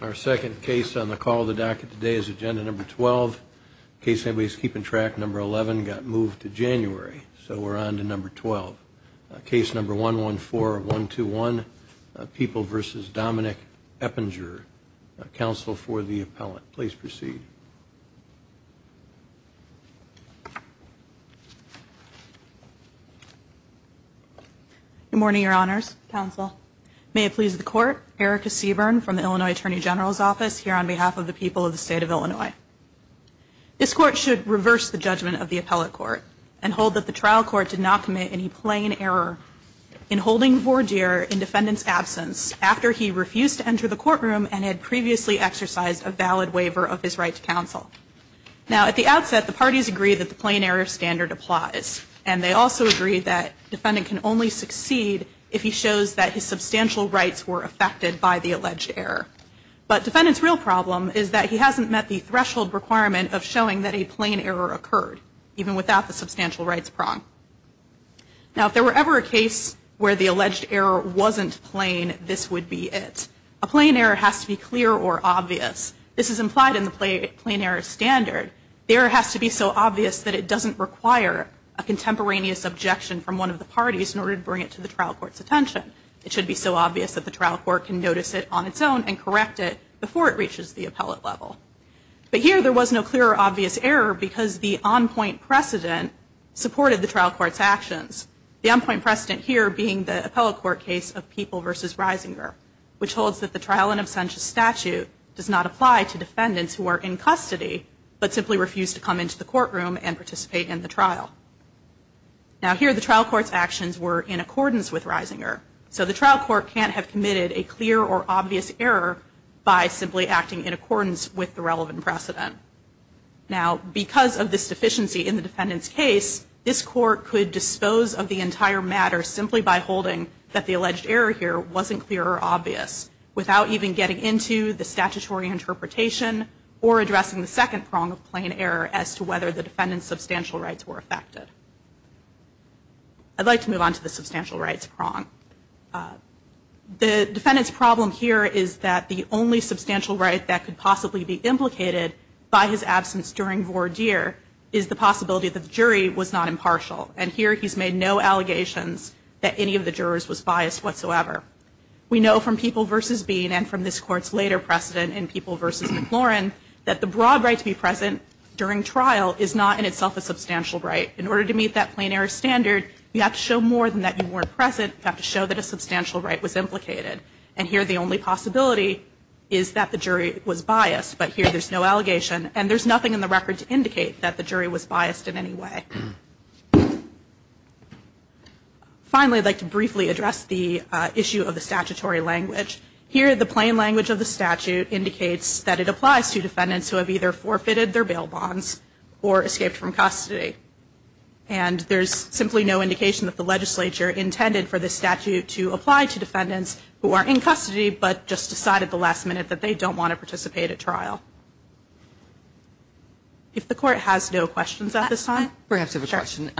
Our second case on the call of the docket today is agenda number 12. Case number 11 got moved to January, so we're on to number 12. Case number 114-121, People v. Dominic Eppinger. Counsel for the appellant, please proceed. Good morning, Your Honors. Counsel. May it please the Court, Erica Seaburn from the Illinois Attorney General's Office here on behalf of the people of the State of Illinois. This Court should reverse the judgment of the appellate court and hold that the trial court did not commit any plain error in holding Vordier in defendant's absence after he refused to enter the courtroom and had previously exercised a valid waiver of his right to counsel. Now, at the outset, the parties agree that the plain error standard applies, and they also agree that defendant can only succeed if he shows that his substantial rights were affected by the alleged error. But defendant's real problem is that he hasn't met the threshold requirement of showing that a plain error occurred, even without the substantial rights prong. Now, if there were ever a case where the alleged error wasn't plain, this would be it. A plain error has to be clear or obvious. This is implied in the plain error standard. The error has to be so obvious that it doesn't require a contemporaneous objection from one of the parties in order to bring it to the trial court's attention. It should be so obvious that the trial court can notice it on its own and correct it before it reaches the appellate level. But here there was no clear or obvious error because the on-point precedent supported the trial court's actions, the on-point precedent here being the appellate court case of People v. Reisinger, which holds that the trial in absentia statute does not apply to defendants who are in custody, but simply refuse to come into the courtroom and participate in the trial. Now, here the trial court's actions were in accordance with Reisinger. So the trial court can't have committed a clear or obvious error by simply acting in accordance with the relevant precedent. Now, because of this deficiency in the defendant's case, this court could dispose of the entire matter simply by holding that the alleged error here wasn't clear or obvious, without even getting into the statutory interpretation or addressing the second prong of plain error as to whether the defendant's substantial rights were affected. I'd like to move on to the substantial rights prong. The defendant's problem here is that the only substantial right that could possibly be implicated by his absence during voir dire is the possibility that the jury was not impartial. And here he's made no allegations that any of the jurors was biased whatsoever. We know from People v. Bean and from this court's later precedent in People v. McLaurin that the broad right to be present during trial is not in itself a substantial right. In order to meet that plain error standard, you have to show more than that you weren't present. You have to show that a substantial right was implicated. And here the only possibility is that the jury was biased. But here there's no allegation. And there's nothing in the record to indicate that the jury was biased in any way. Finally, I'd like to briefly address the issue of the statutory language. Here the plain language of the statute indicates that it applies to defendants who have either forfeited their bail bonds or escaped from custody. And there's simply no indication that the legislature intended for this statute to apply to defendants who are in custody but just decided at the last minute that they don't want to participate at trial. If the court has no questions at this time. I perhaps have a question.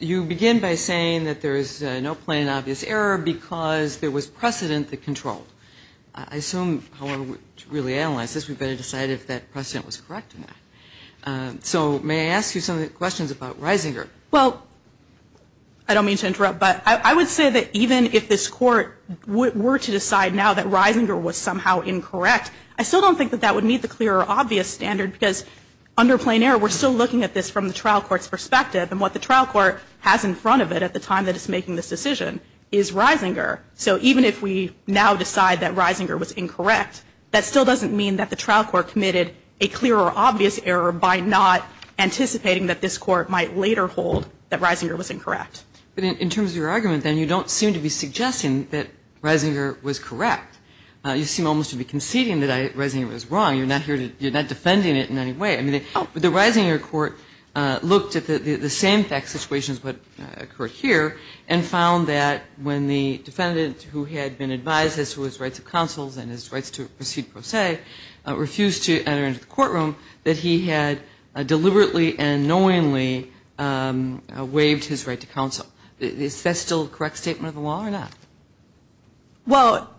You begin by saying that there is no plain and obvious error because there was precedent that controlled. I assume, however, to really analyze this, we'd better decide if that precedent was correct or not. So may I ask you some questions about Reisinger? Well, I don't mean to interrupt, but I would say that even if this court were to decide now that Reisinger was somehow incorrect, I still don't think that that would meet the clear or obvious standard because under plain error we're still looking at this from the trial court's perspective. And what the trial court has in front of it at the time that it's making this decision is Reisinger. So even if we now decide that Reisinger was incorrect, that still doesn't mean that the trial court committed a clear or obvious error by not anticipating that this court might later hold that Reisinger was incorrect. But in terms of your argument, then, you don't seem to be suggesting that Reisinger was correct. You seem almost to be conceding that Reisinger was wrong. You're not defending it in any way. I mean, the Reisinger court looked at the same fact situation as what occurred here and found that when the defendant who had been advised as to his rights of counsel and his rights to proceed pro se refused to enter into the courtroom, that he had deliberately and knowingly waived his right to counsel. Is that still a correct statement of the law or not? Well,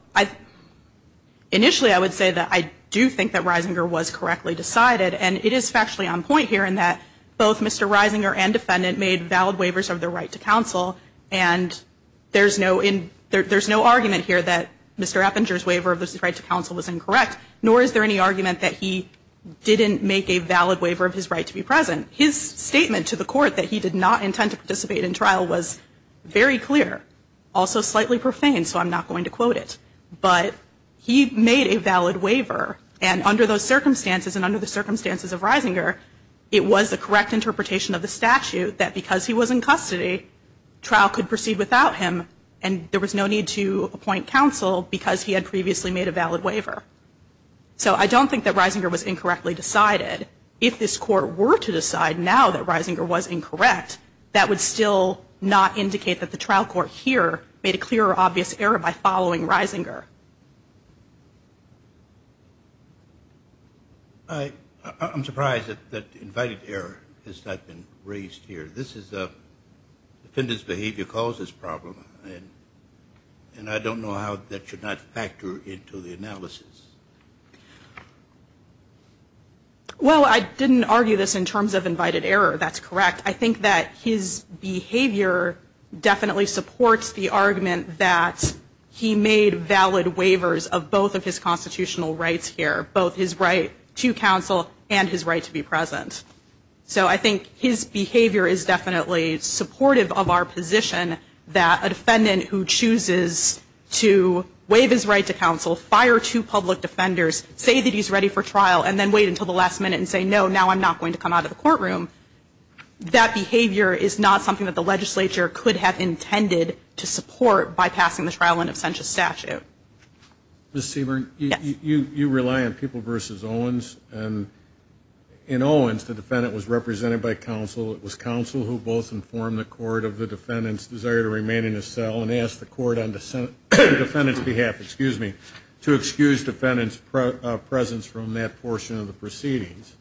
initially I would say that I do think that Reisinger was correctly decided. And it is factually on point here in that both Mr. Reisinger and defendant made valid waivers of their right to counsel. And there's no argument here that Mr. Eppinger's waiver of his right to counsel was incorrect, nor is there any argument that he didn't make a valid waiver of his right to be present. His statement to the court that he did not intend to participate in trial was very clear, also slightly profane, so I'm not going to quote it. But he made a valid waiver. And under those circumstances and under the circumstances of Reisinger, it was the correct interpretation of the statute that because he was in custody, trial could proceed without him and there was no need to appoint counsel because he had previously made a valid waiver. So I don't think that Reisinger was incorrectly decided. If this court were to decide now that Reisinger was incorrect, that would still not indicate that the trial court here made a clear or obvious error by following Reisinger. I'm surprised that invited error has not been raised here. This is a defendant's behavior causes problem, and I don't know how that should not factor into the analysis. Well, I didn't argue this in terms of invited error. That's correct. I think that his behavior definitely supports the argument that he made valid waivers of both of his constitutional rights here, both his right to counsel and his right to be present. So I think his behavior is definitely supportive of our position that a defendant who chooses to waive his right to counsel, fire two public defenders, say that he's ready for trial, and then wait until the last minute and say, no, now I'm not going to come out of the courtroom, that behavior is not something that the legislature could have intended to support by passing the trial in absentia statute. Ms. Seaborn? Yes. You rely on People v. Owens. In Owens, the defendant was represented by counsel. It was counsel who both informed the court of the defendant's desire to remain in his cell and asked the court on the defendant's behalf, excuse me, to excuse defendant's presence from that portion of the proceedings.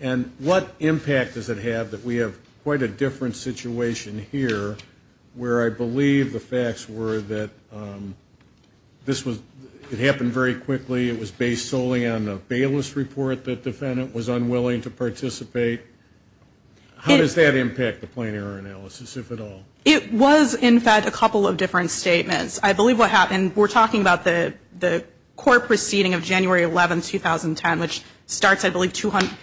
And what impact does it have that we have quite a different situation here where I believe the facts were that this was, it happened very quickly, it was based solely on the Bayless report, the defendant was unwilling to participate. How does that impact the plain error analysis, if at all? It was, in fact, a couple of different statements. I believe what happened, we're talking about the court proceeding of January 11, 2010, which starts, I believe,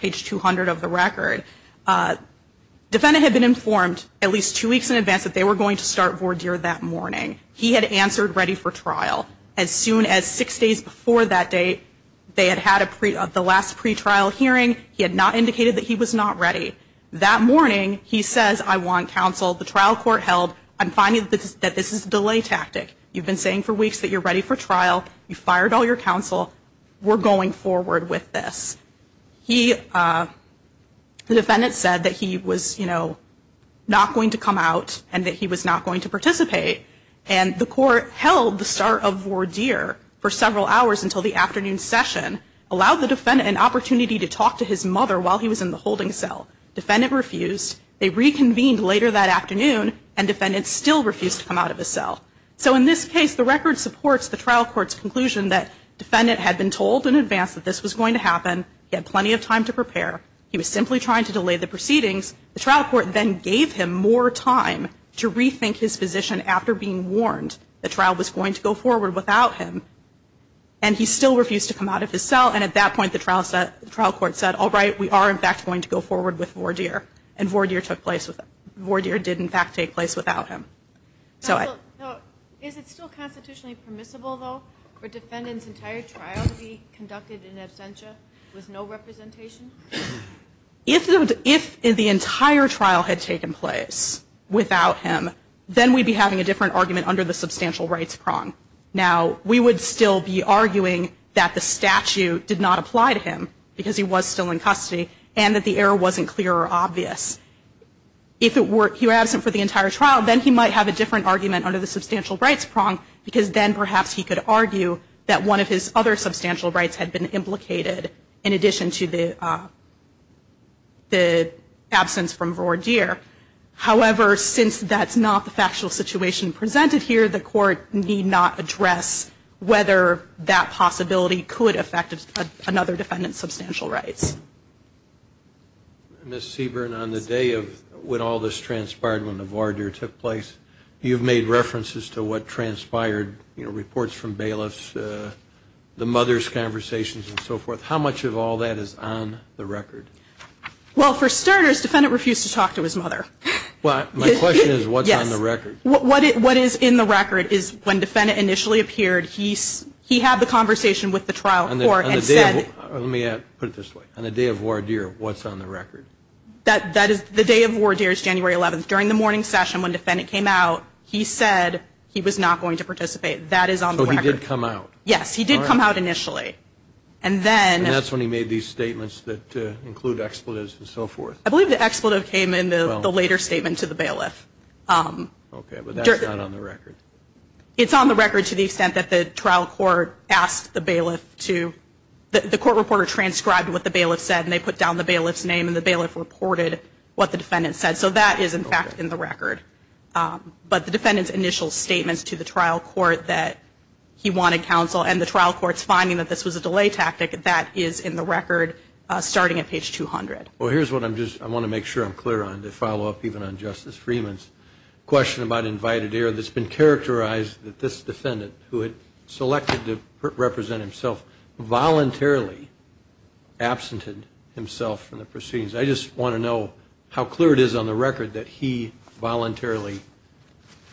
page 200 of the record. Defendant had been informed at least two weeks in advance that they were going to start voir dire that morning. He had answered ready for trial. As soon as six days before that date, they had had the last pretrial hearing. He had not indicated that he was not ready. That morning, he says, I want counsel. The trial court held. I'm finding that this is a delay tactic. You've been saying for weeks that you're ready for trial. You fired all your counsel. We're going forward with this. He, the defendant said that he was, you know, not going to come out and that he was not going to participate. And the court held the start of voir dire for several hours until the afternoon session, allowed the defendant an opportunity to talk to his mother while he was in the holding cell. Defendant refused. They reconvened later that afternoon, and defendant still refused to come out of his cell. So in this case, the record supports the trial court's conclusion that defendant had been told in advance that this was going to happen. He had plenty of time to prepare. He was simply trying to delay the proceedings. The trial court then gave him more time to rethink his position after being warned the trial was going to go forward without him. And he still refused to come out of his cell. And at that point, the trial court said, all right, we are, in fact, going to go forward with voir dire. And voir dire took place with him. Voir dire did, in fact, take place without him. Is it still constitutionally permissible, though, for defendants' entire trial to be conducted in absentia with no representation? If the entire trial had taken place without him, then we'd be having a different argument under the substantial rights prong. Now, we would still be arguing that the statute did not apply to him because he was still in custody and that the error wasn't clear or obvious. If he were absent for the entire trial, then he might have a different argument under the substantial rights prong because then perhaps he could argue that one of his other substantial rights had been implicated in addition to the absence from voir dire. However, since that's not the factual situation presented here, the court need not address whether that possibility could affect another defendant's substantial rights. Ms. Seaborn, on the day of when all this transpired, when the voir dire took place, you've made references to what transpired, you know, reports from bailiffs, the mother's conversations and so forth. How much of all that is on the record? Well, for starters, the defendant refused to talk to his mother. Well, my question is what's on the record? What is in the record is when the defendant initially appeared, he had the conversation with the trial court and said On the day of voir dire, what's on the record? The day of voir dire is January 11th. During the morning session when the defendant came out, he said he was not going to participate. That is on the record. So he did come out? Yes, he did come out initially. And that's when he made these statements that include expletives and so forth. I believe the expletive came in the later statement to the bailiff. Okay, but that's not on the record. It's on the record to the extent that the trial court asked the bailiff to The court reporter transcribed what the bailiff said and they put down the bailiff's name and the bailiff reported what the defendant said. So that is, in fact, in the record. But the defendant's initial statements to the trial court that he wanted counsel and the trial court's finding that this was a delay tactic, that is in the record starting at page 200. Well, here's what I want to make sure I'm clear on to follow up even on Justice Freeman's question about invited error that's been characterized that this defendant who had selected to represent himself voluntarily absented himself from the proceedings. I just want to know how clear it is on the record that he voluntarily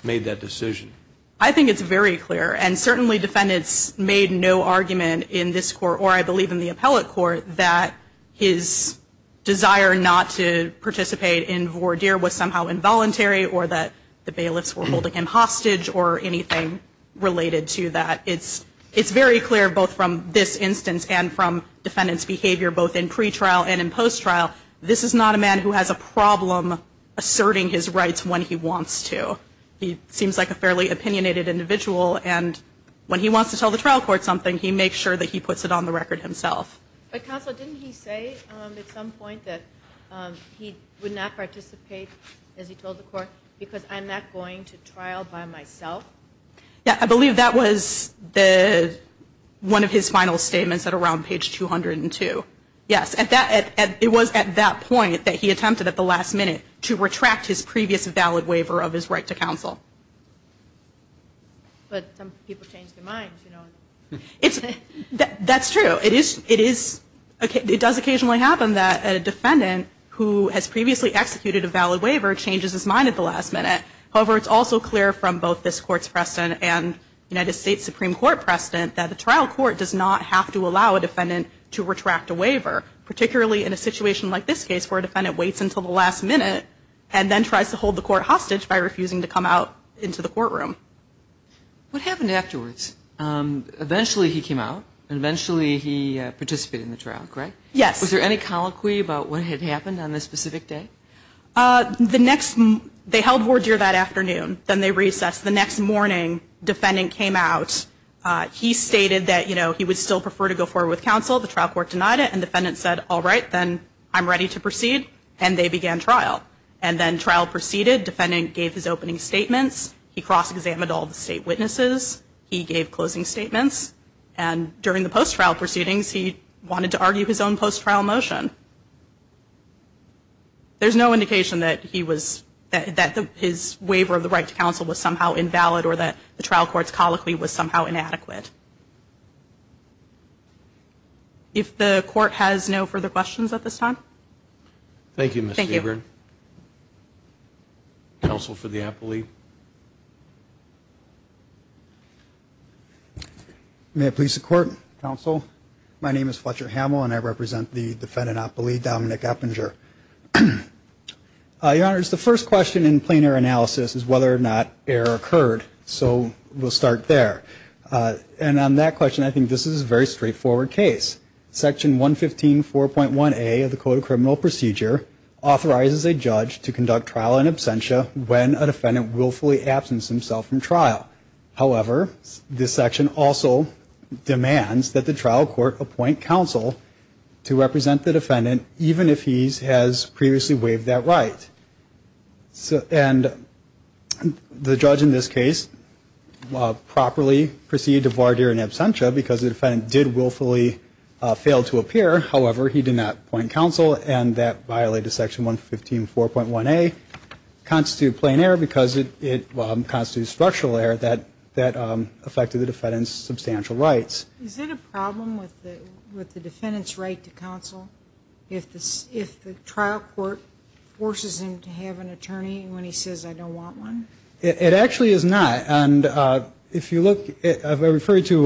made that decision. I think it's very clear. And certainly defendants made no argument in this court, or I believe in the appellate court, that his desire not to participate in voir dire was somehow involuntary or that the bailiffs were holding him hostage or anything related to that. It's very clear both from this instance and from defendant's behavior both in pre-trial and in post-trial this is not a man who has a problem asserting his rights when he wants to. He seems like a fairly opinionated individual and when he wants to tell the trial court something he makes sure that he puts it on the record himself. But counsel, didn't he say at some point that he would not participate, as he told the court, because I'm not going to trial by myself? Yeah, I believe that was one of his final statements at around page 202. Yes, it was at that point that he attempted at the last minute to retract his previous valid waiver of his right to counsel. But some people change their minds, you know. That's true. It does occasionally happen that a defendant who has previously executed a valid waiver changes his mind at the last minute. However, it's also clear from both this court's precedent and United States Supreme Court precedent that the trial court does not have to allow a defendant to retract a waiver, particularly in a situation like this case where a defendant waits until the last minute and then tries to hold the court hostage by refusing to come out into the courtroom. What happened afterwards? Eventually he came out and eventually he participated in the trial, correct? Yes. Was there any colloquy about what had happened on this specific day? The next, they held word here that afternoon. Then they recessed. The next morning defendant came out. He stated that, you know, he would still prefer to go forward with counsel. The trial court denied it. And defendant said, all right, then I'm ready to proceed. And they began trial. And then trial proceeded. Defendant gave his opening statements. He cross-examined all the state witnesses. He gave closing statements. And during the post-trial proceedings, he wanted to argue his own post-trial motion. There's no indication that he was, that his waiver of the right to counsel was somehow invalid or that the trial court's colloquy was somehow inadequate. If the court has no further questions at this time. Thank you, Ms. Seaborn. Thank you. Counsel for the appellee. May it please the court, counsel, my name is Fletcher Hamill and I represent the defendant appellee, Dominic Eppinger. Your Honor, it's the first question in plain error analysis is whether or not error occurred. So we'll start there. And on that question, I think this is a very straightforward case. Section 115.4.1A of the Code of Criminal Procedure authorizes a judge to conduct trial in absentia when a defendant willfully absents himself from trial. However, this section also demands that the trial court appoint counsel to represent the defendant, even if he has previously waived that right. And the judge in this case properly proceeded to voir dire in absentia because the defendant did willfully fail to appear. However, he did not appoint counsel and that violated Section 115.4.1A, constitute plain error because it constitutes structural error that affected the defendant's substantial rights. Is it a problem with the defendant's right to counsel if the trial court forces him to have an attorney when he says, I don't want one? It actually is not. And if you look, I refer you to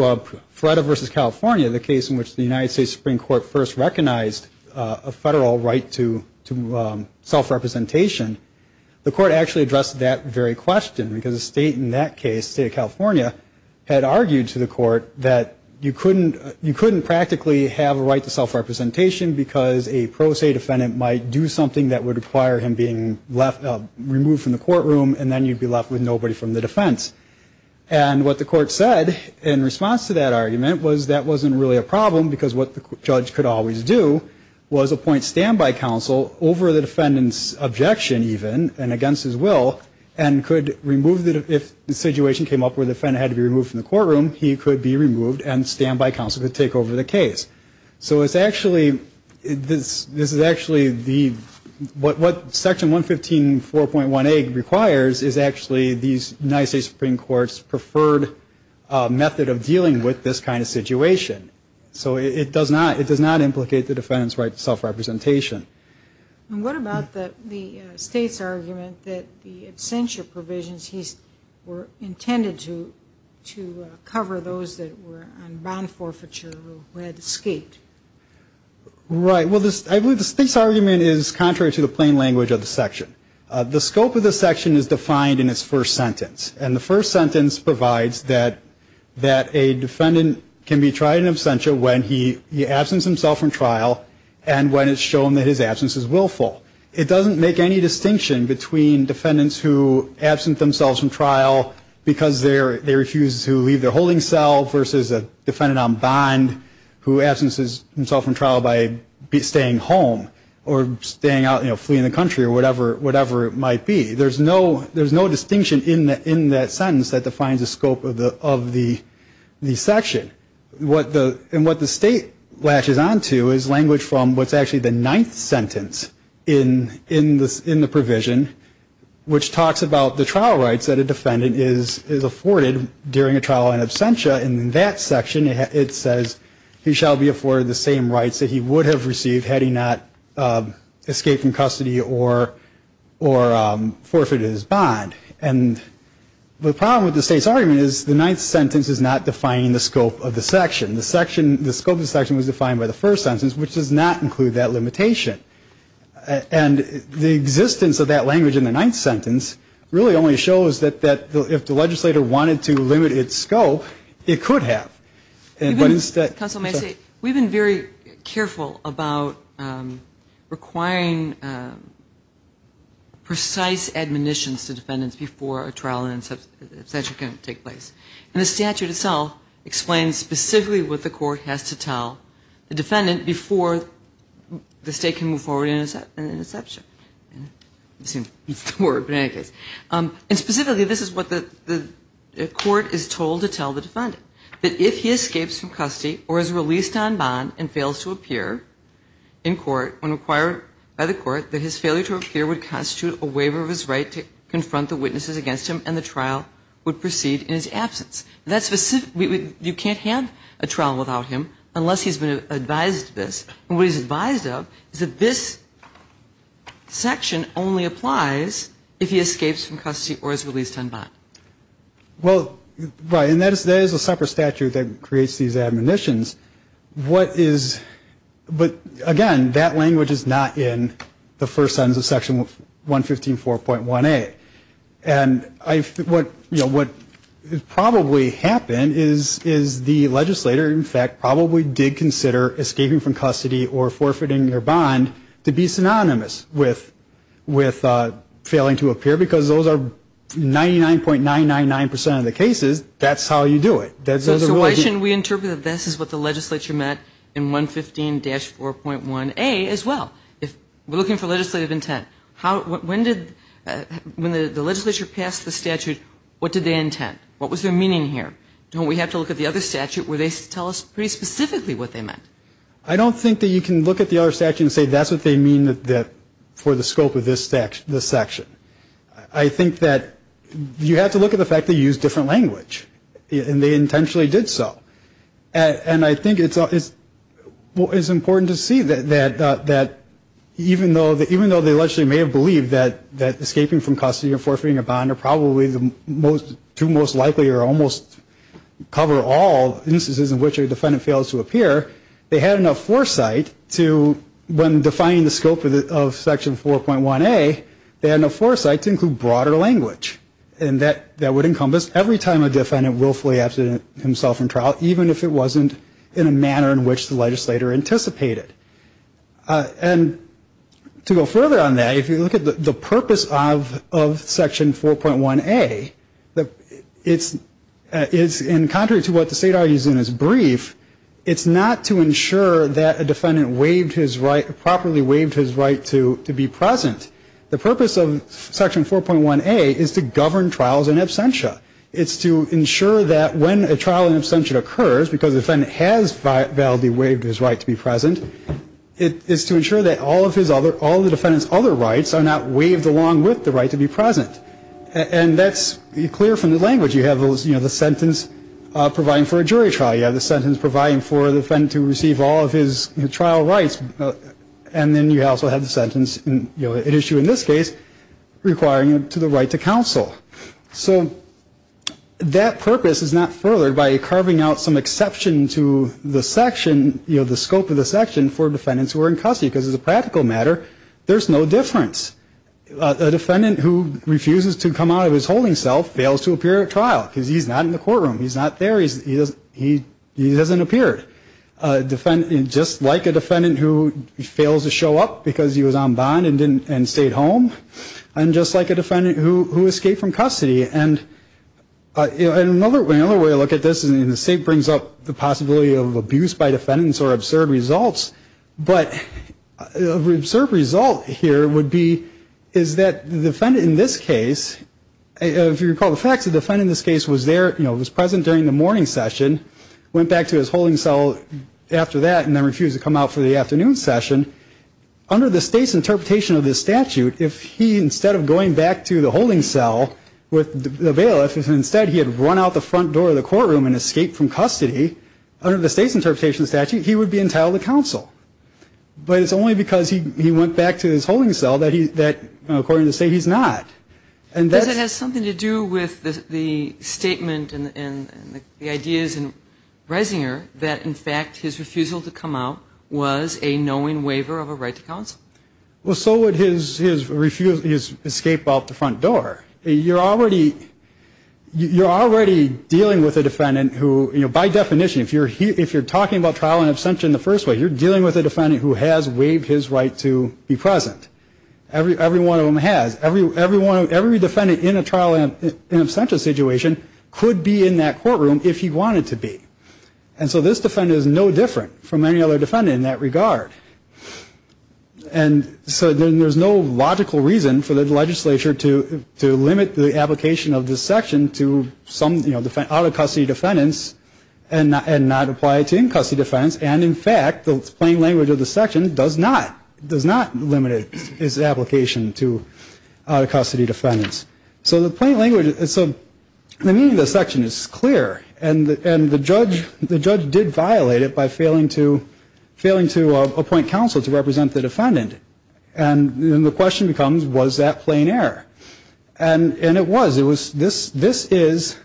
Freda v. California, the case in which the United States Supreme Court first recognized a federal right to self-representation. The court actually addressed that very question because the state in that case, the state of California, had argued to the court that you couldn't practically have a right to self-representation because a pro se defendant might do something that would require him being removed from the courtroom and then you'd be left with nobody from the defense. And what the court said in response to that argument was that wasn't really a problem because what the judge could always do was appoint standby counsel over the defendant's objection even and against his will and could remove the, if the situation came up where the defendant had to be removed from the courtroom, he could be removed and standby counsel could take over the case. So it's actually, this is actually the, what section 115.4.1A requires is actually the United States Supreme Court's preferred method of dealing with this kind of situation. So it does not, it does not implicate the defendant's right to self-representation. And what about the state's argument that the absentia provisions he's, were intended to cover those that were on bond forfeiture who had escaped? Right. Well, I believe the state's argument is contrary to the plain language of the section. The scope of the section is defined in its first sentence. And the first sentence provides that a defendant can be tried in absentia when he absents himself from trial and when it's shown that his absence is willful. It doesn't make any distinction between defendants who absent themselves from trial because they refuse to leave their holding cell versus a defendant on bond who absences himself from trial by staying home or staying out, you know, fleeing the country or whatever it might be. There's no distinction in that sentence that defines the scope of the section. And what the state latches on to is language from what's actually the ninth sentence in the provision, which talks about the trial rights that a defendant is afforded during a trial in absentia. And in that section, it says, he shall be afforded the same rights that he would have received had he not escaped from custody or forfeited his bond. And the problem with the state's argument is the ninth sentence is not defining the scope of the section. The scope of the section was defined by the first sentence, which does not include that limitation. And the existence of that language in the ninth sentence really only shows that if the legislator wanted to limit its scope, it could have. Counsel, may I say, we've been very careful about requiring precise admonitions to defendants before a trial in absentia can take place. And the statute itself explains specifically what the court has to tell the defendant before the state can move forward in an inception. I'm assuming that's the word, but in any case. And specifically, this is what the court is told to tell the defendant, that if he escapes from custody or is released on bond and fails to appear in court when required by the court, that his failure to appear would constitute a waiver of his right to confront the witnesses against him and the trial would proceed in his absence. That's specific. You can't have a trial without him unless he's been advised this. And what he's advised of is that this section only applies if he escapes from custody or is released on bond. Well, right. And that is a separate statute that creates these admonitions. What is, but again, that language is not in the first sentence of section 115.4.1A. And what probably happened is the legislator, in fact, probably did consider escaping from custody or forfeiting their bond to be synonymous with failing to appear, because those are 99.999% of the cases, that's how you do it. So why shouldn't we interpret that this is what the legislature meant in 115-4.1A as well? We're looking for legislative intent. When the legislature passed the statute, what did they intend? What was their meaning here? Don't we have to look at the other statute where they tell us pretty specifically what they meant? I don't think that you can look at the other statute and say that's what they mean for the scope of this section. I think that you have to look at the fact that you used different language, and they intentionally did so. And I think it's important to see that even though the legislature may have believed that escaping from custody or forfeiting a bond are probably the two most likely or almost cover all instances in which a defendant fails to appear, they had enough foresight to, when defining the scope of section 4.1A, they had enough foresight to include broader language. And that would encompass every time a defendant willfully absent himself in trial, even if it wasn't in a manner in which the legislator anticipated. And to go further on that, if you look at the purpose of section 4.1A, it's in contrary to what the state argues in its brief, it's not to ensure that a defendant waived his right, properly waived his right to be present. The purpose of section 4.1A is to govern trials in absentia. It's to ensure that when a trial in absentia occurs, because the defendant has validly waived his right to be present, it is to ensure that all of the defendant's other rights are not waived along with the right to be present. And that's clear from the language. You have the sentence providing for a jury trial. You have the sentence providing for the defendant to receive all of his trial rights. And then you also have the sentence, an issue in this case, requiring him to the right to counsel. So that purpose is not furthered by carving out some exception to the section, you know, the scope of the section for defendants who are in custody. Because as a practical matter, there's no difference. A defendant who refuses to come out of his holding cell fails to appear at trial because he's not in the courtroom. He's not there. He doesn't appear. Just like a defendant who fails to show up because he was on bond and stayed home. And just like a defendant who escaped from custody. And another way to look at this, and the state brings up the possibility of abuse by defendants or absurd results, but the absurd result here would be is that the defendant in this case, if you recall the facts, the defendant in this case was there, you know, was present during the morning session, went back to his holding cell after that, and then refused to come out for the afternoon session. Under the state's interpretation of this statute, if he, instead of going back to the holding cell with the bailiff, if instead he had run out the front door of the courtroom and escaped from custody, under the state's interpretation of the statute, he would be entitled to counsel. But it's only because he went back to his holding cell that, according to the state, he's not. Because it has something to do with the statement and the ideas in Reisinger that, in fact, his refusal to come out was a knowing waiver of a right to counsel. Well, so would his escape out the front door. You're already dealing with a defendant who, you know, by definition, if you're talking about trial and abstention the first way, you're dealing with a defendant who has waived his right to be present. Every one of them has. Every defendant in a trial and abstention situation could be in that courtroom if he wanted to be. And so this defendant is no different from any other defendant in that regard. And so then there's no logical reason for the legislature to limit the application of this section to some, you know, out-of-custody defendants and not apply it to in-custody defendants. And, in fact, the plain language of the section does not. It does not limit its application to out-of-custody defendants. So the plain language of the section is clear. And the judge did violate it by failing to appoint counsel to represent the defendant. And then the question becomes, was that plain error? And it was. This is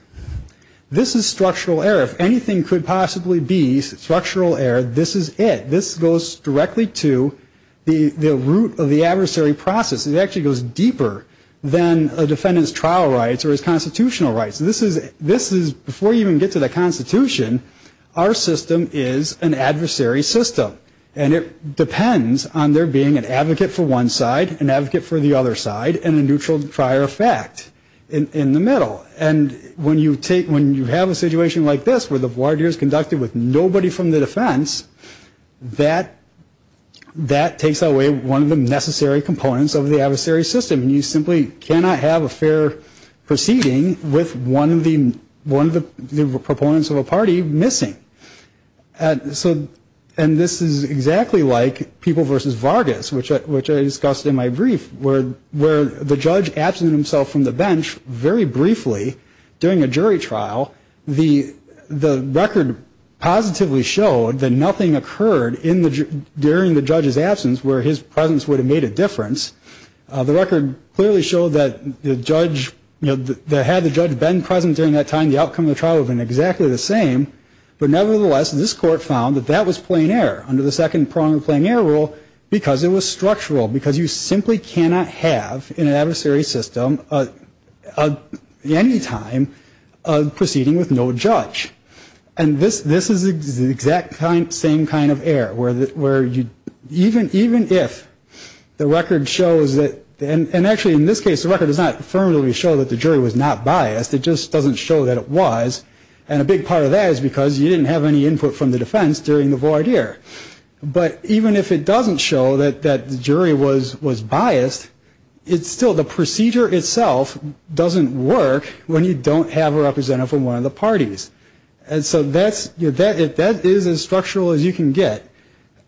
structural error. If anything could possibly be structural error, this is it. This goes directly to the root of the adversary process. It actually goes deeper than a defendant's trial rights or his constitutional rights. This is, before you even get to the Constitution, our system is an adversary system. And it depends on there being an advocate for one side, an advocate for the other side, and a neutral prior effect in the middle. And when you have a situation like this where the voir dire is conducted with nobody from the defense, that takes away one of the necessary components of the adversary system. You simply cannot have a fair proceeding with one of the proponents of a party missing. And this is exactly like People v. Vargas, which I discussed in my brief, where the judge absented himself from the bench very briefly during a jury trial. The record positively showed that nothing occurred during the judge's absence where his presence would have made a difference. The record clearly showed that the judge, you know, that had the judge been present during that time, the outcome of the trial would have been exactly the same. But nevertheless, this court found that that was plain error under the second prong of plain error rule because it was structural, because you simply cannot have in an adversary system at any time a proceeding with no judge. And this is the exact same kind of error where even if the record shows that, and actually in this case, the record does not affirmatively show that the jury was not biased. It just doesn't show that it was. And a big part of that is because you didn't have any input from the defense during the voir dire. But even if it doesn't show that the jury was biased, it's still the procedure itself doesn't work when you don't have a representative from one of the parties. And so that is as structural as you can get.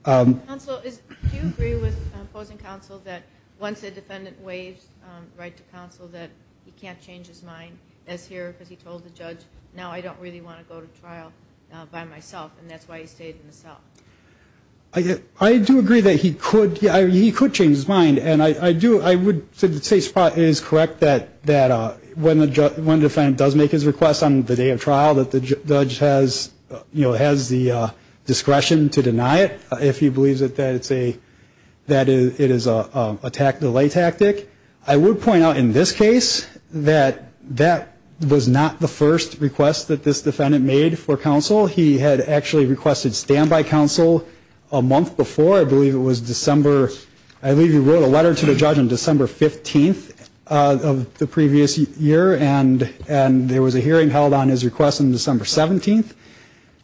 Counsel, do you agree with opposing counsel that once a defendant waives right to counsel, that he can't change his mind as here because he told the judge, no, I don't really want to go to trial by myself, and that's why he stayed in the cell? I do agree that he could. He could change his mind. And I would say it is correct that when a defendant does make his request on the day of trial, that the judge has the discretion to deny it if he believes that it is an attack delay tactic. I would point out in this case that that was not the first request that this defendant made for counsel. He had actually requested standby counsel a month before. I believe it was December. I believe he wrote a letter to the judge on December 15th of the previous year, and there was a hearing held on his request on December 17th.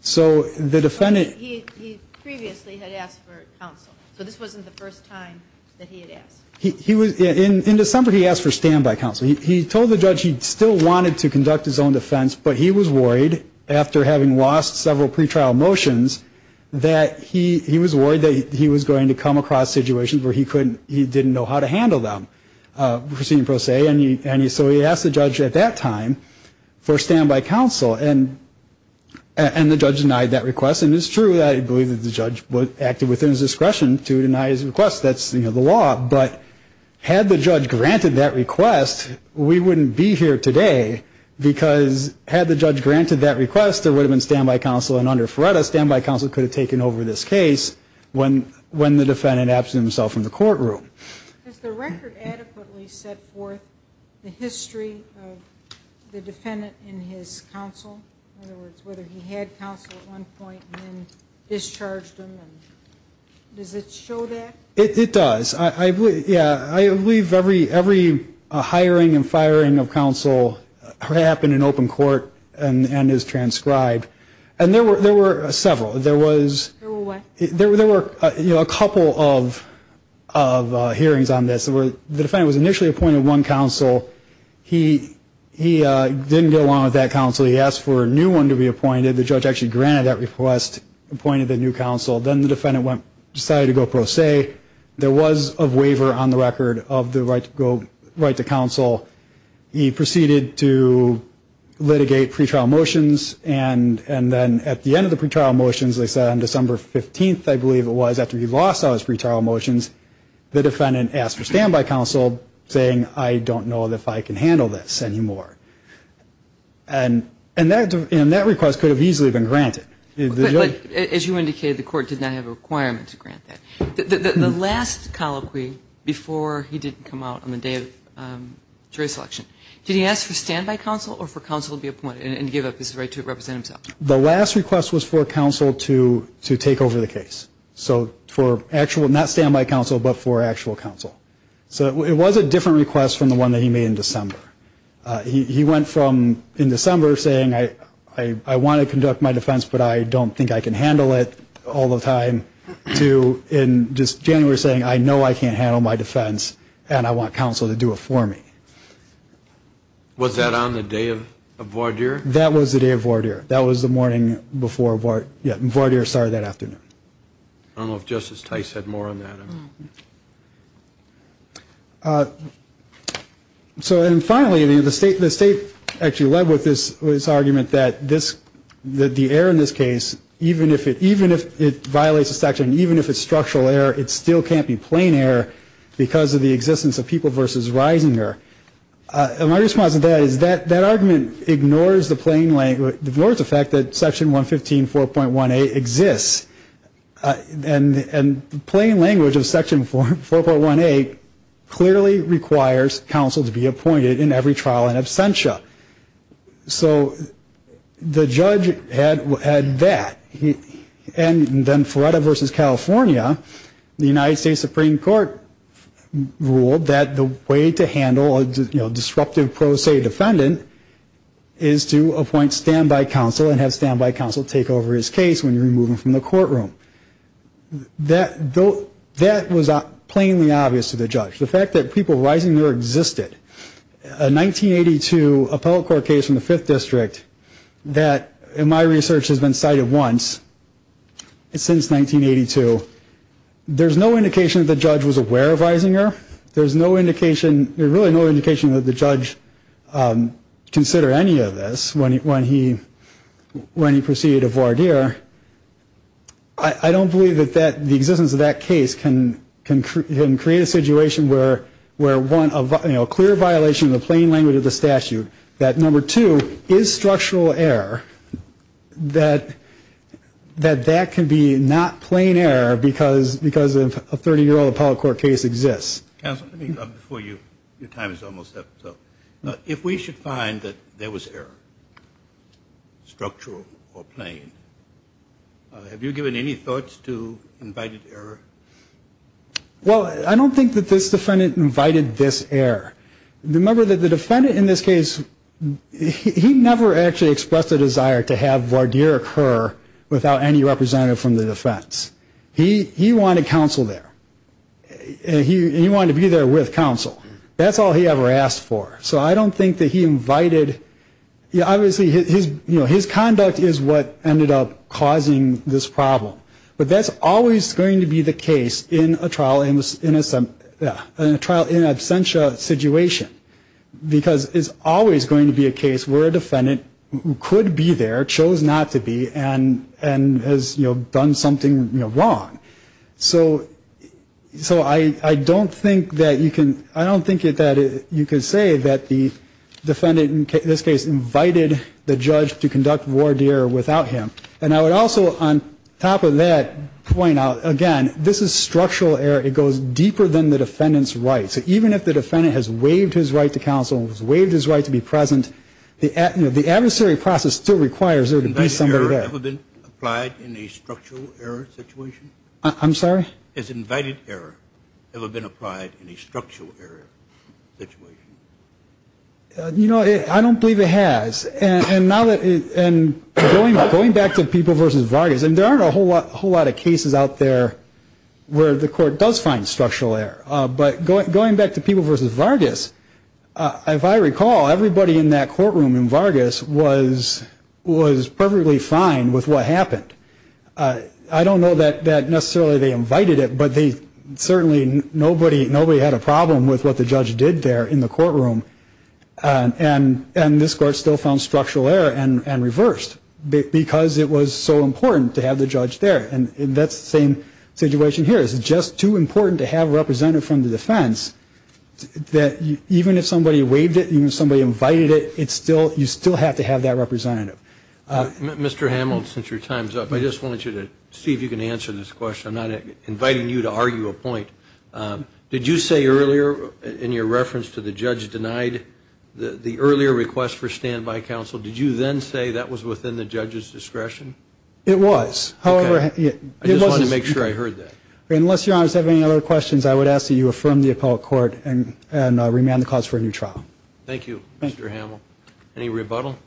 So the defendant. He previously had asked for counsel. So this wasn't the first time that he had asked. In December, he asked for standby counsel. He told the judge he still wanted to conduct his own defense, but he was worried after having lost several pretrial motions, that he was worried that he was going to come across situations where he didn't know how to handle them. And so he asked the judge at that time for standby counsel, and the judge denied that request. And it's true that I believe that the judge acted within his discretion to deny his request. That's, you know, the law. But had the judge granted that request, we wouldn't be here today, because had the judge granted that request, there would have been standby counsel, and under FREDA, standby counsel could have taken over this case when the defendant absent himself from the courtroom. Has the record adequately set forth the history of the defendant in his counsel? In other words, whether he had counsel at one point and then discharged him? Does it show that? It does. Yeah, I believe every hiring and firing of counsel happened in open court and is transcribed. And there were several. There were what? There were a couple of hearings on this. The defendant was initially appointed one counsel. He didn't get along with that counsel. He asked for a new one to be appointed. The judge actually granted that request, appointed a new counsel. Then the defendant decided to go pro se. There was a waiver on the record of the right to counsel. He proceeded to litigate pretrial motions, and then at the end of the pretrial motions, they said on December 15th, I believe it was, after he lost all his pretrial motions, the defendant asked for standby counsel, saying, I don't know if I can handle this anymore. And that request could have easily been granted. But as you indicated, the court did not have a requirement to grant that. The last colloquy before he did come out on the day of jury selection, did he ask for standby counsel or for counsel to be appointed and give up his right to represent himself? The last request was for counsel to take over the case. So for actual, not standby counsel, but for actual counsel. So it was a different request from the one that he made in December. He went from in December saying, I want to conduct my defense, but I don't think I can handle it all the time, to in just January saying, I know I can't handle my defense, and I want counsel to do it for me. Was that on the day of voir dire? That was the day of voir dire. That was the morning before voir dire started that afternoon. I don't know if Justice Tice had more on that. And finally, the state actually led with this argument that the error in this case, even if it violates the section, even if it's structural error, it still can't be plain error because of the existence of people versus rising error. And my response to that is that argument ignores the plain language, ignores the fact that Section 115.4.1a exists. And the plain language of Section 4.1a clearly requires counsel to be appointed in every trial in absentia. So the judge had that. And then Florida versus California, the United States Supreme Court ruled that the way to handle a disruptive pro se defendant is to appoint standby counsel and have standby counsel take over his case when you remove him from the courtroom. That was plainly obvious to the judge. The fact that people rising there existed. A 1982 appellate court case in the Fifth District that, in my research, has been cited once since 1982, there's no indication that the judge was aware of rising error. There's really no indication that the judge considered any of this when he proceeded to voir dire. I don't believe that the existence of that case can create a situation where, one, a clear violation of the plain language of the statute, that, number two, is structural error, that that can be not plain error because a 30-year-old appellate court case exists. Counsel, before your time is almost up, if we should find that there was error, structural or plain, have you given any thoughts to invited error? Well, I don't think that this defendant invited this error. Remember that the defendant in this case, he never actually expressed a desire to have voir dire occur without any representative from the defense. He wanted counsel there. He wanted to be there with counsel. That's all he ever asked for. So I don't think that he invited. Obviously, his conduct is what ended up causing this problem. But that's always going to be the case in a trial in absentia situation because it's always going to be a case where a defendant could be there, chose not to be, and has done something wrong. So I don't think that you can say that the defendant in this case invited the judge to conduct voir dire without him. And I would also, on top of that, point out, again, this is structural error. It goes deeper than the defendant's rights. Even if the defendant has waived his right to counsel and has waived his right to be present, the adversary process still requires there to be somebody there. Has invited error ever been applied in a structural error situation? I'm sorry? Has invited error ever been applied in a structural error situation? You know, I don't believe it has. And going back to People v. Vargas, and there aren't a whole lot of cases out there where the court does find structural error. But going back to People v. Vargas, if I recall, everybody in that courtroom in Vargas was perfectly fine with what happened. I don't know that necessarily they invited it, but certainly nobody had a problem with what the judge did there in the courtroom. And this court still found structural error and reversed because it was so important to have the judge there. And that's the same situation here. It's just too important to have a representative from the defense that even if somebody waived it, even if somebody invited it, you still have to have that representative. Mr. Hamiltz, since your time is up, I just want you to see if you can answer this question. I'm not inviting you to argue a point. Did you say earlier in your reference to the judge denied the earlier request for standby counsel, did you then say that was within the judge's discretion? It was. Okay. I just wanted to make sure I heard that. Unless, Your Honor, you have any other questions, I would ask that you affirm the appellate court and remand the cause for a new trial. Thank you, Mr. Hamiltz. Any rebuttal?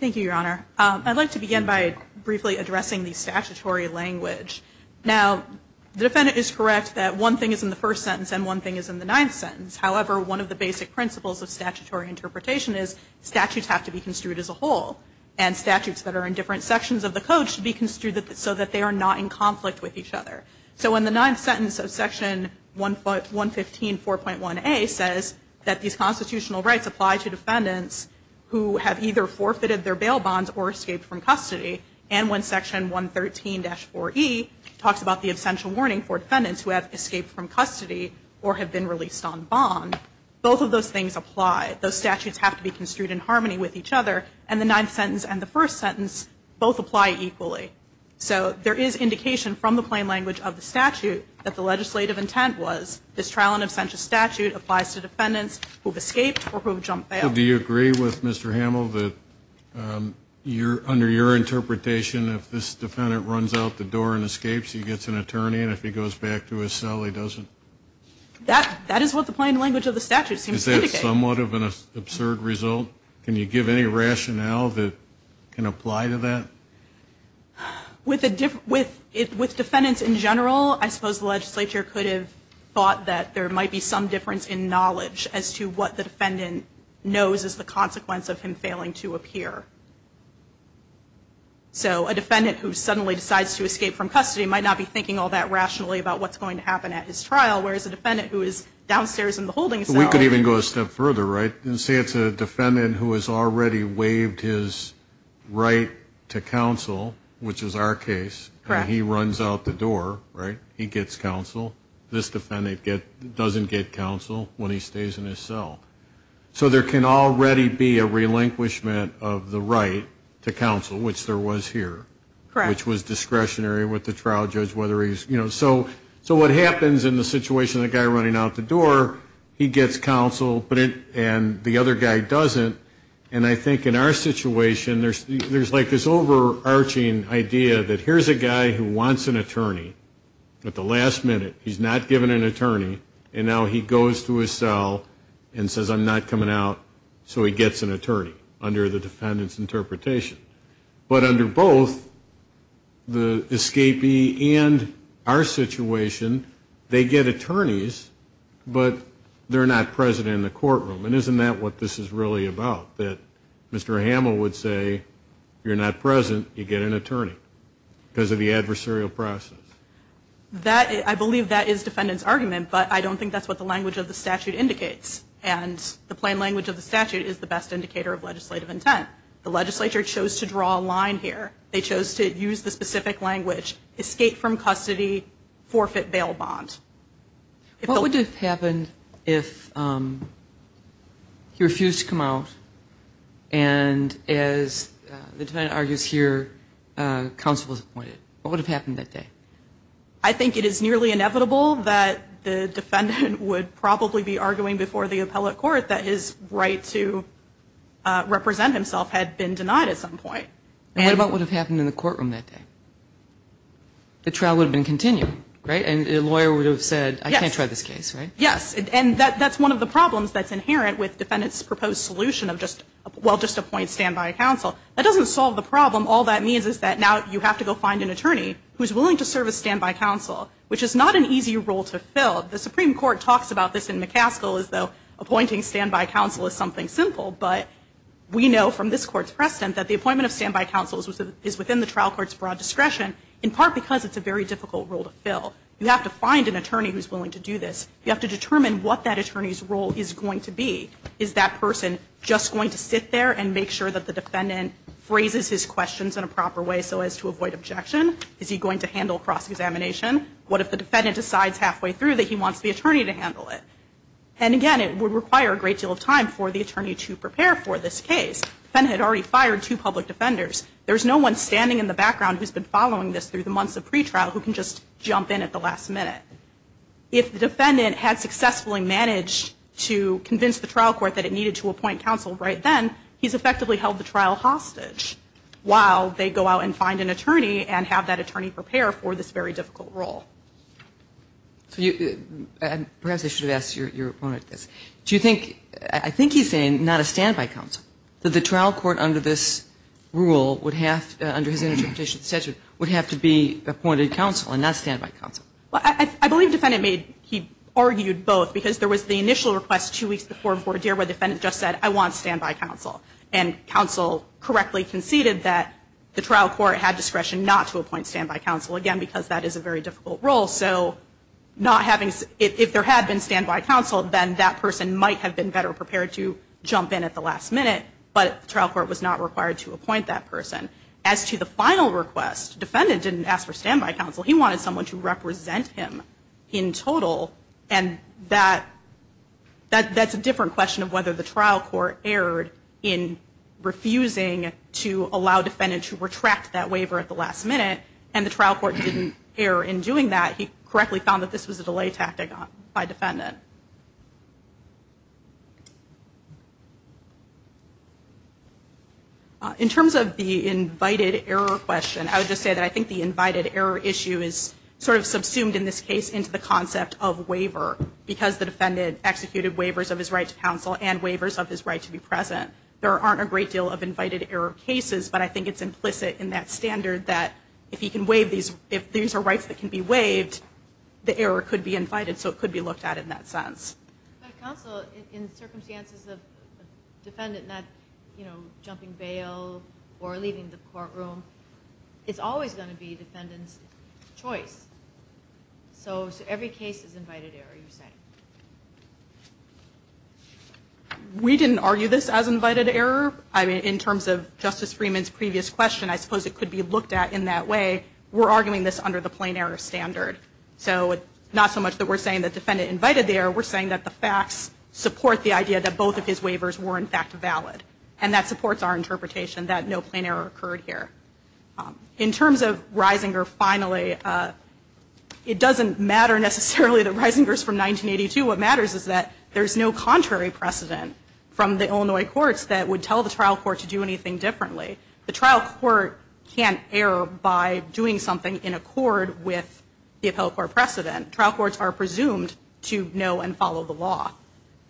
Thank you, Your Honor. I'd like to begin by briefly addressing the statutory language. Now, the defendant is correct that one thing is in the first sentence and one thing is in the ninth sentence. However, one of the basic principles of statutory interpretation is statutes have to be construed as a whole, and statutes that are in different sections of the code should be construed so that they are not in conflict with each other. So in the ninth sentence of Section 115.4.1a says that these constitutional rights apply to defendants who have either forfeited their bail bonds or escaped from custody, and when Section 113.4.e talks about the essential warning for defendants who have escaped from custody or have been released on bond, both of those things apply. Those statutes have to be construed in harmony with each other, and the ninth sentence and the first sentence both apply equally. So there is indication from the plain language of the statute that the legislative intent was this trial in absentia statute applies to defendants who have escaped or who have jumped bail. Do you agree with Mr. Hamill that under your interpretation, if this defendant runs out the door and escapes, he gets an attorney, and if he goes back to his cell, he doesn't? That is what the plain language of the statute seems to indicate. Is that somewhat of an absurd result? Can you give any rationale that can apply to that? With defendants in general, I suppose the legislature could have thought that there might be some difference in knowledge as to what the defendant knows is the consequence of him failing to appear. So a defendant who suddenly decides to escape from custody might not be thinking all that rationally about what's going to happen at his trial, whereas a defendant who is downstairs in the holding cell. We could even go a step further, right, and say it's a defendant who has already waived his right to counsel, which is our case, and he runs out the door, right, he gets counsel. This defendant doesn't get counsel when he stays in his cell. So there can already be a relinquishment of the right to counsel, which there was here, which was discretionary with the trial judge. So what happens in the situation of the guy running out the door, he gets counsel and the other guy doesn't, and I think in our situation there's like this overarching idea that here's a guy who wants an attorney at the last minute, he's not given an attorney, and now he goes to his cell and says I'm not coming out, so he gets an attorney under the defendant's interpretation. But under both the escapee and our situation, they get attorneys, but they're not present in the courtroom. And isn't that what this is really about, that Mr. Hamill would say you're not present, you get an attorney because of the adversarial process? I believe that is defendant's argument, but I don't think that's what the language of the statute indicates, and the plain language of the statute is the best indicator of legislative intent. The legislature chose to draw a line here. They chose to use the specific language, escape from custody, forfeit bail bond. What would have happened if he refused to come out, and as the defendant argues here, counsel was appointed? What would have happened that day? I think it is nearly inevitable that the defendant would probably be arguing before the appellate court that his right to represent himself had been denied at some point. And what about what would have happened in the courtroom that day? The trial would have been continued, right? And a lawyer would have said, I can't try this case, right? Yes. And that's one of the problems that's inherent with defendant's proposed solution of just, well, just appoint standby counsel. That doesn't solve the problem. All that means is that now you have to go find an attorney who's willing to serve as standby counsel, which is not an easy role to fill. The Supreme Court talks about this in McCaskill as though appointing standby counsel is something simple, but we know from this Court's precedent that the appointment of standby counsel is within the trial court's broad discretion, in part because it's a very difficult role to fill. You have to find an attorney who's willing to do this. You have to determine what that attorney's role is going to be. Is that person just going to sit there and make sure that the defendant phrases his questions in a proper way so as to avoid objection? Is he going to handle cross-examination? What if the defendant decides halfway through that he wants the attorney to handle it? And, again, it would require a great deal of time for the attorney to prepare for this case. The defendant had already fired two public defenders. There's no one standing in the background who's been following this through the months of pretrial who can just jump in at the last minute. If the defendant had successfully managed to convince the trial court that it needed to appoint counsel right then, he's effectively held the trial hostage while they go out and find an attorney and have that attorney prepare for this very difficult role. And perhaps I should have asked your opponent this. Do you think, I think he's saying not a standby counsel, that the trial court under this rule would have, under his interpretation of the statute, would have to be appointed counsel and not standby counsel? I believe the defendant made, he argued both because there was the initial request two weeks before where the defendant just said I want standby counsel. And counsel correctly conceded that the trial court had discretion not to appoint standby counsel, again, because that is a very difficult role. So not having, if there had been standby counsel, then that person might have been better prepared to jump in at the last minute. But the trial court was not required to appoint that person. As to the final request, defendant didn't ask for standby counsel. He wanted someone to represent him in total. And that's a different question of whether the trial court erred in refusing to allow defendant to retract that waiver at the last minute. And the trial court didn't err in doing that. He correctly found that this was a delay tactic by defendant. In terms of the invited error question, I would just say that I think the invited error issue is sort of subsumed in this case into the concept of waiver, because the defendant executed waivers of his right to counsel and waivers of his right to be present. There aren't a great deal of invited error cases, but I think it's implicit in that standard that if he can waive these, if these are rights that can be waived, the error could be invited, so it could be looked at in that standard. But counsel, in circumstances of defendant not jumping bail or leaving the courtroom, it's always going to be defendant's choice. So every case is invited error, you're saying? We didn't argue this as invited error. I mean, in terms of Justice Freeman's previous question, I suppose it could be looked at in that way. We're arguing this under the plain error standard. So not so much that we're saying the defendant invited the error, we're saying that the facts support the idea that both of his waivers were in fact valid, and that supports our interpretation that no plain error occurred here. In terms of Reisinger, finally, it doesn't matter necessarily that Reisinger is from 1982. What matters is that there's no contrary precedent from the Illinois courts that would tell the trial court to do anything differently. The trial court can't err by doing something in accord with the appellate court precedent. Trial courts are presumed to know and follow the law.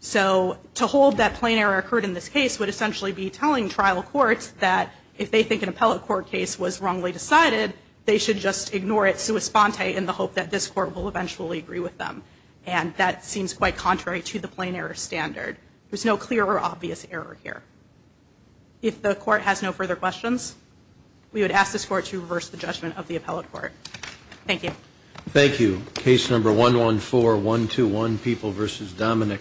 So to hold that plain error occurred in this case would essentially be telling trial courts that if they think an appellate court case was wrongly decided, they should just ignore it sua sponte in the hope that this court will eventually agree with them. And that seems quite contrary to the plain error standard. There's no clear or obvious error here. If the court has no further questions, we would ask this court to reverse the judgment of the appellate court. Thank you. Thank you. Case number 114121, People v. Dominick.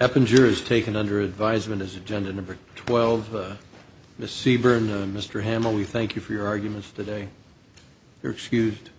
Eppinger is taken under advisement as agenda number 12. Ms. Seaborn, Mr. Hamill, we thank you for your arguments today. You're excused.